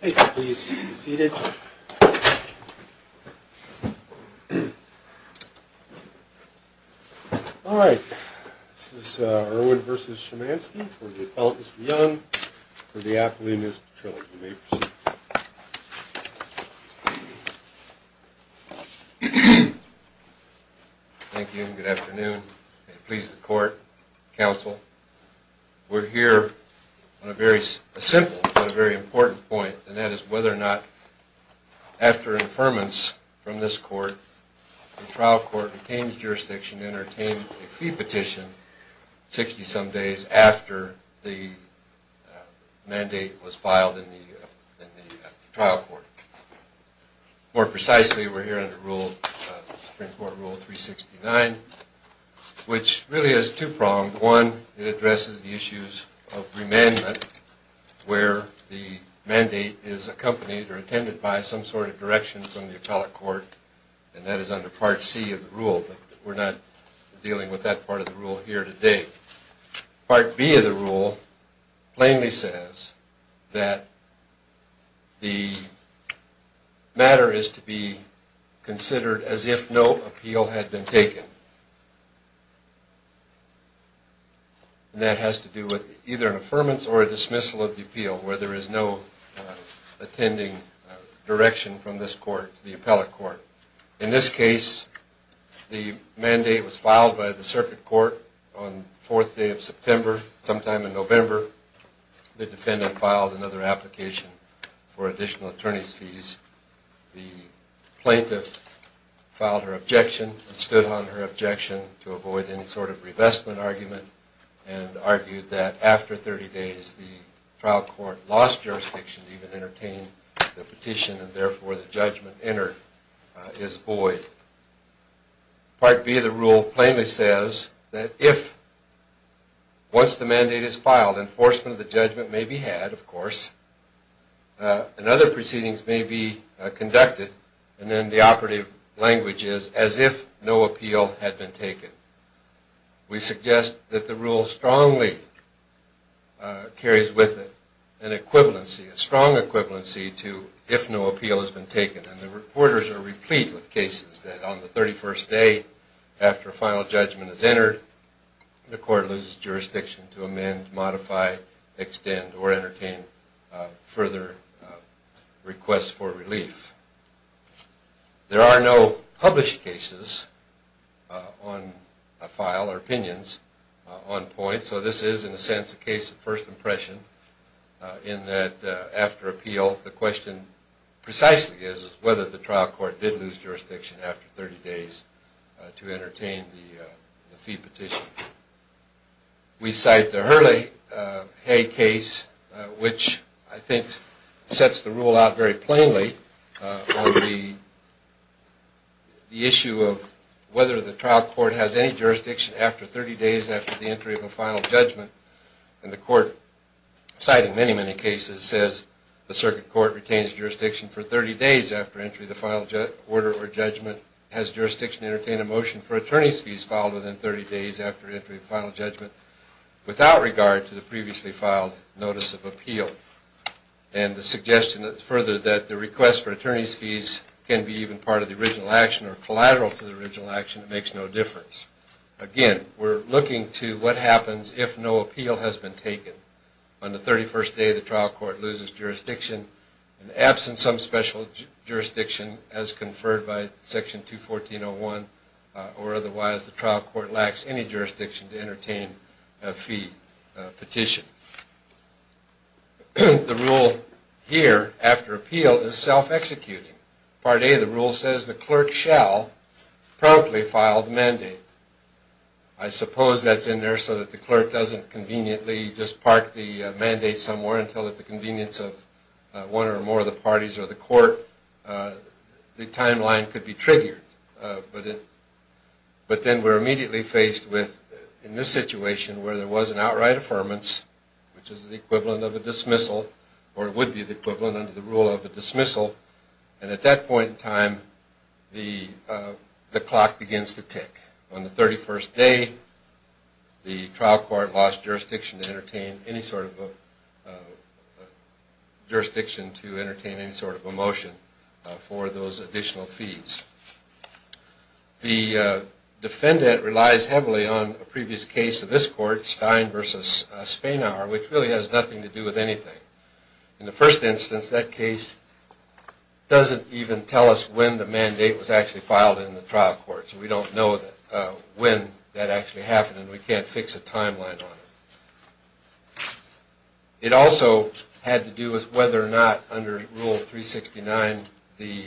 Please be seated. Alright, this is Irwin v. Shymansky for the Appellant Mr. Young for the Appellant Ms. Petrillo. You may proceed. Thank you, good afternoon. Please the court, counsel. We're here on a very simple, but a very important point, and that is whether or not after affirmance from this court the trial court retains jurisdiction to entertain a fee petition 60 some days after the mandate was filed in the trial court. More precisely, we're here under rule, Supreme Court Rule 369, which really is two-pronged. One, it addresses the issues of remandment where the mandate is accompanied or attended by some sort of direction from the appellate court, and that is under Part C of the rule, but we're not dealing with that part of the rule here today. Part B of the rule plainly says that the matter is to be considered as if no appeal had been taken. That has to do with either an affirmance or a dismissal of the appeal, where there is no attending direction from this court to the appellate court. In this case, the mandate was filed by the circuit court on the fourth day of September. Sometime in November, the defendant filed another application for additional attorney's fees. The plaintiff filed her objection and stood on her objection to avoid any sort of revestment argument and argued that after 30 days, the trial court lost jurisdiction to even entertain the petition, and therefore the judgment entered is void. Part B of the rule plainly says that if once the mandate is filed, enforcement of the judgment may be had, of course, and other proceedings may be conducted, and then the operative language is as if no appeal had been taken. We suggest that the rule strongly carries with it an equivalency, a strong equivalency to if no appeal has been taken. And the reporters are replete with cases that on the 31st day after a final judgment is entered, the court loses jurisdiction to amend, modify, extend, or entertain further requests for relief. There are no published cases on file or opinions on point, so this is, in a sense, a case of first impression in that after appeal, the question precisely is whether the trial court did lose jurisdiction after 30 days to entertain the fee petition. We cite the Hurley Hay case, which I think sets the rule out very plainly on the issue of whether the trial court has any jurisdiction after 30 days after the entry of a final judgment, and the court cited in many, many cases says the circuit court retains jurisdiction for 30 days after entry of the final order or judgment, has jurisdiction to entertain a motion for attorney's fees filed within 30 days after entry of final judgment without regard to the previously filed notice of appeal. And the suggestion further that the request for attorney's fees can be even part of the original action or collateral to the original action, it makes no difference. Again, we're looking to what happens if no appeal has been taken. On the 31st day, the trial court loses jurisdiction and absent some special jurisdiction as conferred by Section 214.01 or otherwise, the trial court lacks any jurisdiction to entertain a fee petition. The rule here after appeal is self-executing. Part A of the rule says the clerk shall promptly file the mandate. I suppose that's in there so that the clerk doesn't conveniently just park the mandate somewhere until at the convenience of one or more of the parties or the court the timeline could be triggered. But then we're immediately faced with, in this situation where there was an outright affirmance, which is the equivalent of a dismissal or would be the equivalent under the rule of a dismissal, and at that point in time, the clock begins to tick. On the 31st day, the trial court lost jurisdiction to entertain any sort of a motion for those additional fees. The defendant relies heavily on a previous case of this court, Stein v. Spanauer, which really has nothing to do with anything. In the first instance, that case doesn't even tell us when the mandate was actually filed in the trial court, so we don't know when that actually happened and we can't fix a timeline on it. It also had to do with whether or not under Rule 369 the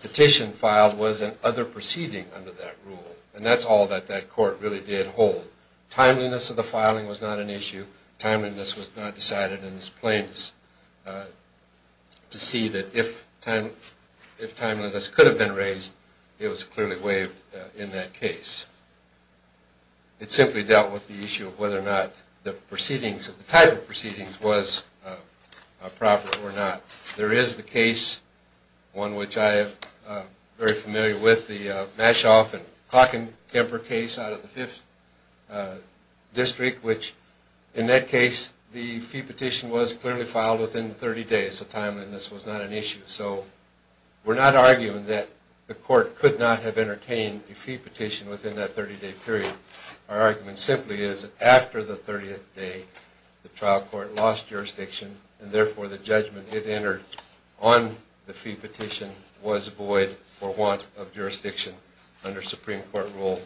petition filed was an other proceeding under that rule. And that's all that that court really did hold. Timeliness of the filing was not an issue. Timeliness was not decided in its plainness to see that if timeliness could have been raised, it was clearly waived in that case. It simply dealt with the issue of whether or not the proceedings, the type of proceedings, was proper or not. There is the case, one which I am very familiar with, the Mashoff and Hockenkemper case out of the 5th District, which in that case the fee petition was clearly filed within 30 days, so timeliness was not an issue. So we're not arguing that the court could not have entertained a fee petition within that 30-day period. Our argument simply is that after the 30th day, the trial court lost jurisdiction and therefore the judgment it entered on the fee petition was void for want of jurisdiction under Supreme Court Rule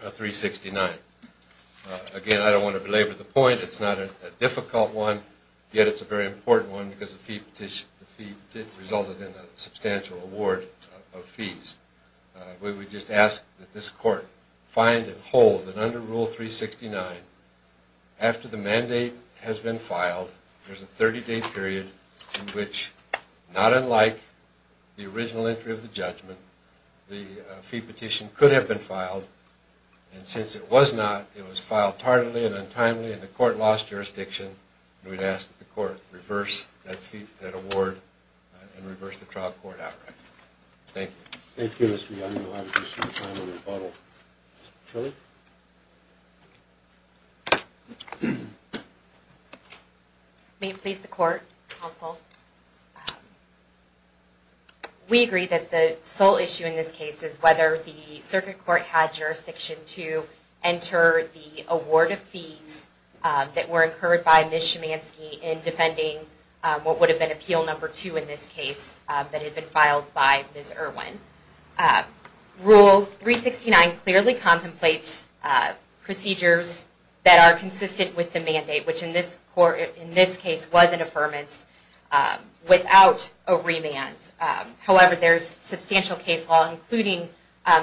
369. Again, I don't want to belabor the point. It's not a difficult one, yet it's a very important one because the fee petition resulted in a substantial award of fees. We would just ask that this court find and hold that under Rule 369 after the mandate has been filed, there's a 30-day period in which, not unlike the original entry of the judgment, the fee petition could have been filed and since it was not, it was filed tardily and untimely and the court lost jurisdiction and we'd ask that the court reverse that award and reverse the trial court outright. Thank you. Thank you, Mr. Young. I appreciate your time and rebuttal. Mr. Trilley? May it please the court, counsel? We agree that the sole issue in this case is whether the circuit court had jurisdiction to enter the award of fees that were incurred by Ms. Schumanski in defending what would have been Appeal No. 2 in this case that had been filed by Ms. Irwin. Rule 369 clearly contemplates procedures that are consistent with the mandate, which in this case was an affirmance without a remand. However, there's substantial case law including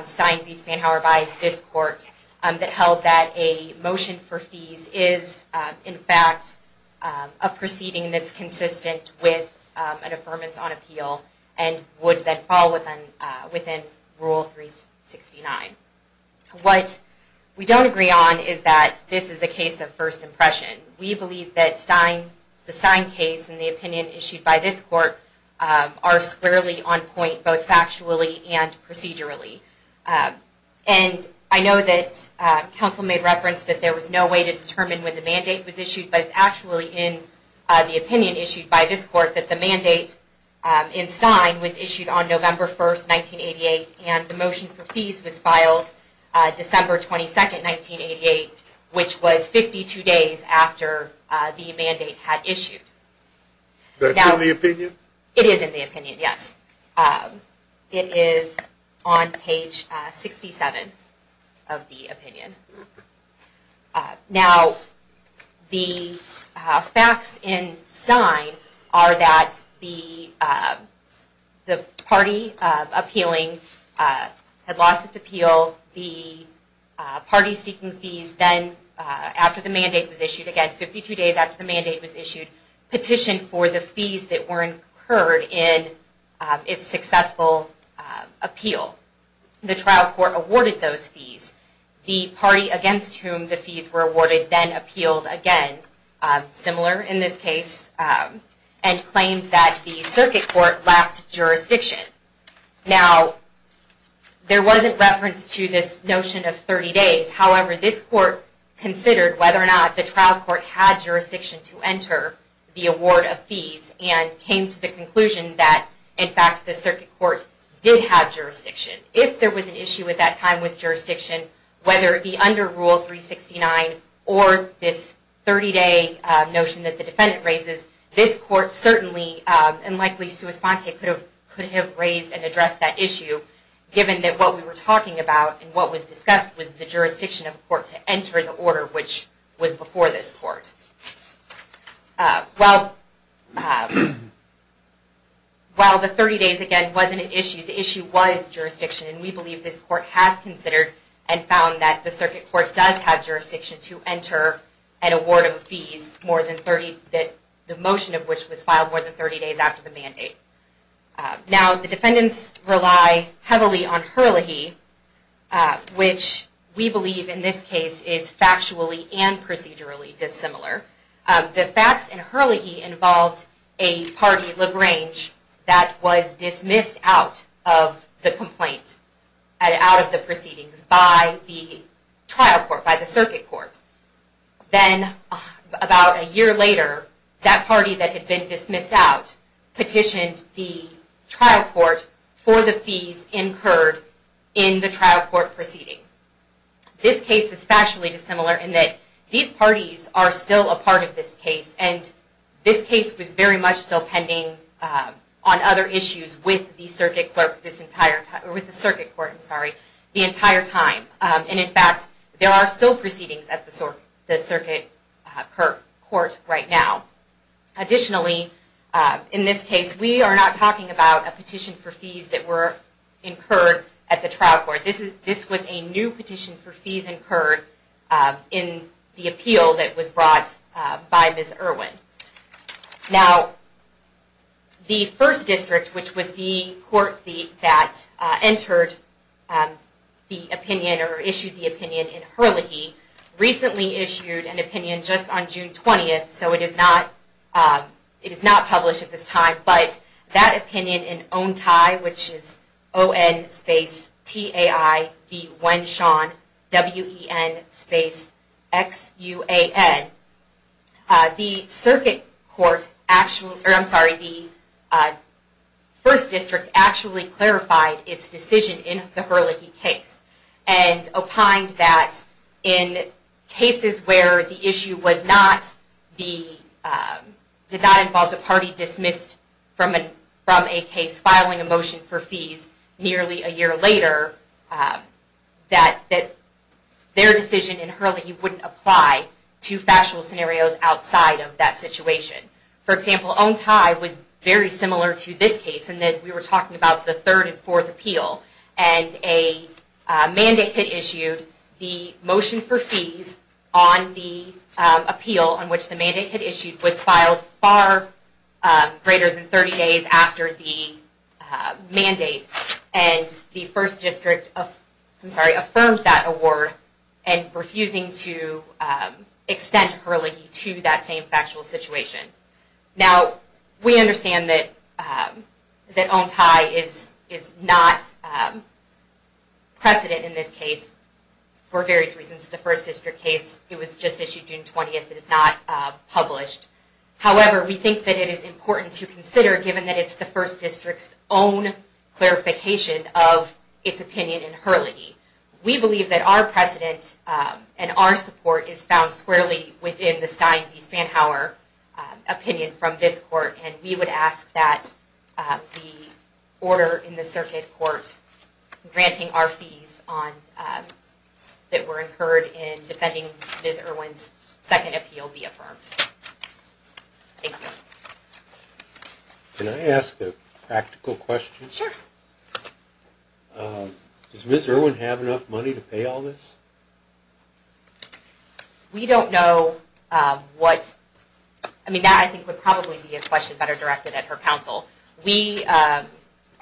Stein v. Spanhauer by this court that held that a motion for fees is, in fact, a proceeding that's consistent with an affirmance on appeal and would then fall within Rule 369. What we don't agree on is that this is a case of first impression. We believe that the Stein case and the opinion issued by this court are squarely on point both factually and procedurally. I know that counsel made reference that there was no way to determine when the mandate was issued, but it's actually in the opinion issued by this court that the mandate in Stein was issued on November 1, 1988 and the motion for fees was filed December 22, 1988 which was 52 days after the mandate had issued. That's in the opinion? It is in the opinion, yes. It is on page 67 of the opinion. Now, the facts in the party appealing had lost its appeal. The party seeking fees then, after the mandate was issued again, 52 days after the mandate was issued, petitioned for the fees that were incurred in its successful appeal. The trial court awarded those fees. The party against whom the fees were awarded then appealed again, similar in this case, and claimed that the circuit court left jurisdiction. Now, there wasn't reference to this notion of 30 days. However, this court considered whether or not the trial court had jurisdiction to enter the award of fees and came to the conclusion that, in fact, the circuit court did have jurisdiction. If there was an issue at that time with jurisdiction, whether it be under Rule 369 or this 30 day notion that the defendant raises, this court certainly, and likely Suis Ponte could have raised and addressed that issue, given that what we were talking about and what was discussed was the jurisdiction of the court to enter the order, which was before this court. While the 30 days again wasn't an issue, the issue was jurisdiction, and we believe this court has considered and found that the circuit court does have jurisdiction to enter an award of fees, the motion of which was filed more than 30 days after the mandate. Now, the defendants rely heavily on Hurley He, which we believe in this case is factually and procedurally dissimilar. The facts in Hurley He involved a party LaGrange that was dismissed out of the complaint and out of the proceedings by the trial court. Then, about a year later, that party that had been dismissed out petitioned the trial court for the fees incurred in the trial court proceeding. This case is factually dissimilar in that these parties are still a part of this case, and this case was very much still pending on other issues with the circuit clerk this entire time, or with the circuit court, I'm sorry, the entire time. And in fact, there are still proceedings at the circuit court right now. Additionally, in this case, we are not talking about a petition for fees that were incurred at the trial court. This was a new petition for fees incurred in the appeal that was brought by Ms. Irwin. Now, the first district, which was the court that entered the opinion, or issued the opinion in Hurley He, recently issued an opinion just on June 20th, so it is not published at this time, but that opinion in Ontai, which is O-N space T-A-I V-1 Sean W-E-N space X-U-A-N, the circuit court actually, or I'm sorry, the first district actually clarified its decision in the Hurley He case and opined that in cases where the issue did not involve a party dismissed from a case filing a motion for fees nearly a year later, that their decision in Hurley He wouldn't apply to factual scenarios outside of that situation. For example, Ontai was very concerned about the third and fourth appeal, and a mandate had issued the motion for fees on the appeal on which the mandate had issued was filed far greater than 30 days after the mandate and the first district affirmed that award and refusing to extend Hurley He to that same factual situation. Now, we understand that Ontai is not precedent in this case for various reasons. The first district case, it was just issued June 20th. It is not published. However, we think that it is important to consider given that it's the first district's own clarification of its opinion in Hurley He. We believe that our precedent and our support is found squarely within the Stein v. Spanhauer opinion from this court, and we would ask that the order in the circuit court granting our fees that were incurred in defending Ms. Irwin's second appeal be affirmed. Thank you. Can I ask a practical question? Sure. Does Ms. Irwin have enough money to pay all this? We don't know what... I mean, that, I think, would probably be a question better directed at her counsel. We are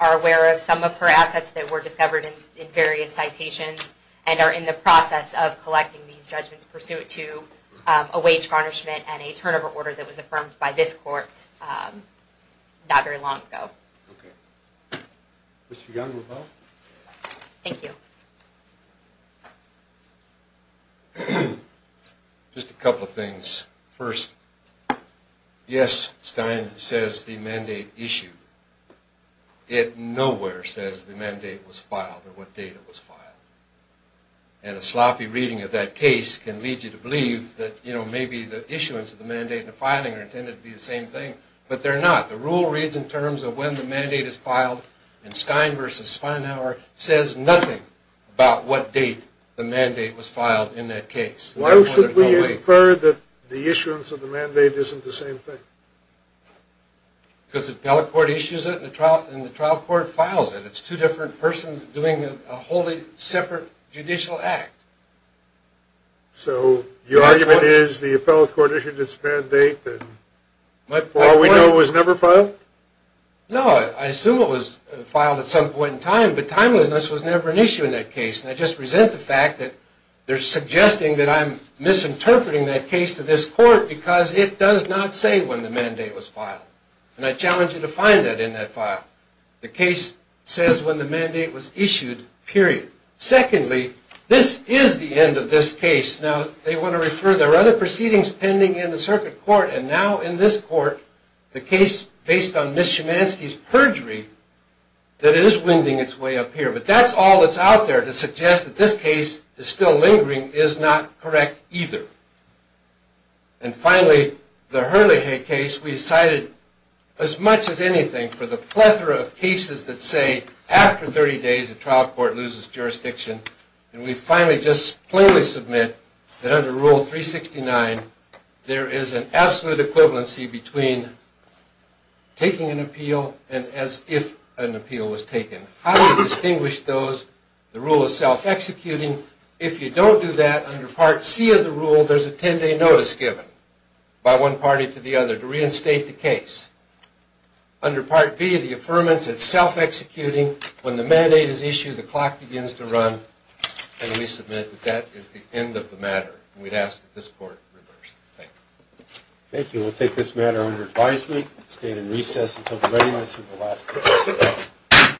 aware of some of her assets that were discovered in various citations and are in the process of collecting these judgments pursuant to a wage garnishment and a turnover order that was affirmed by this court not very long ago. Mr. Young, would you? Thank you. Just a couple of points. First, yes, Stein says the mandate issued. It nowhere says the mandate was filed or what date it was filed. And a sloppy reading of that case can lead you to believe that, you know, maybe the issuance of the mandate and the filing are intended to be the same thing, but they're not. The rule reads in terms of when the mandate is filed, and Stein v. Spanhauer says nothing about what date the mandate was filed in that case. Why should we infer that the issuance of the mandate isn't the same thing? Because the appellate court issues it and the trial court files it. It's two different persons doing a wholly separate judicial act. So, your argument is the appellate court issued its mandate that far we know was never filed? No, I assume it was filed at some point in time, but timeliness was never an issue in that case. And I just resent the fact that they're suggesting that I'm misinterpreting that case to this court because it does not say when the mandate was filed. And I challenge you to find that in that file. The case says when the mandate was issued, period. Secondly, this is the end of this case. Now, they want to refer, there are other proceedings pending in the circuit court and now in this court, the case based on Ms. Schumanski's perjury that is winding its way up here. But that's all that's out there to suggest that this case is still lingering is not correct either. And finally, the Herlihy case we cited as much as anything for the plethora of cases that say after 30 days the trial court loses jurisdiction and we finally just plainly submit that under Rule 369 there is an absolute equivalency between taking an appeal and as if an appeal was taken. How do you distinguish those? The rule is self-executing. If you don't do that, under Part C of the rule, there's a 10-day notice given by one party to the other to reinstate the case. Under Part B of the affirmance, it's self-executing. When the mandate is issued, the clock begins to run and we submit that that is the end of the matter. And we'd ask that this court reverse it. Thank you. Thank you. We'll take this matter under advisement and stay it in recess until the readiness of the last hearing.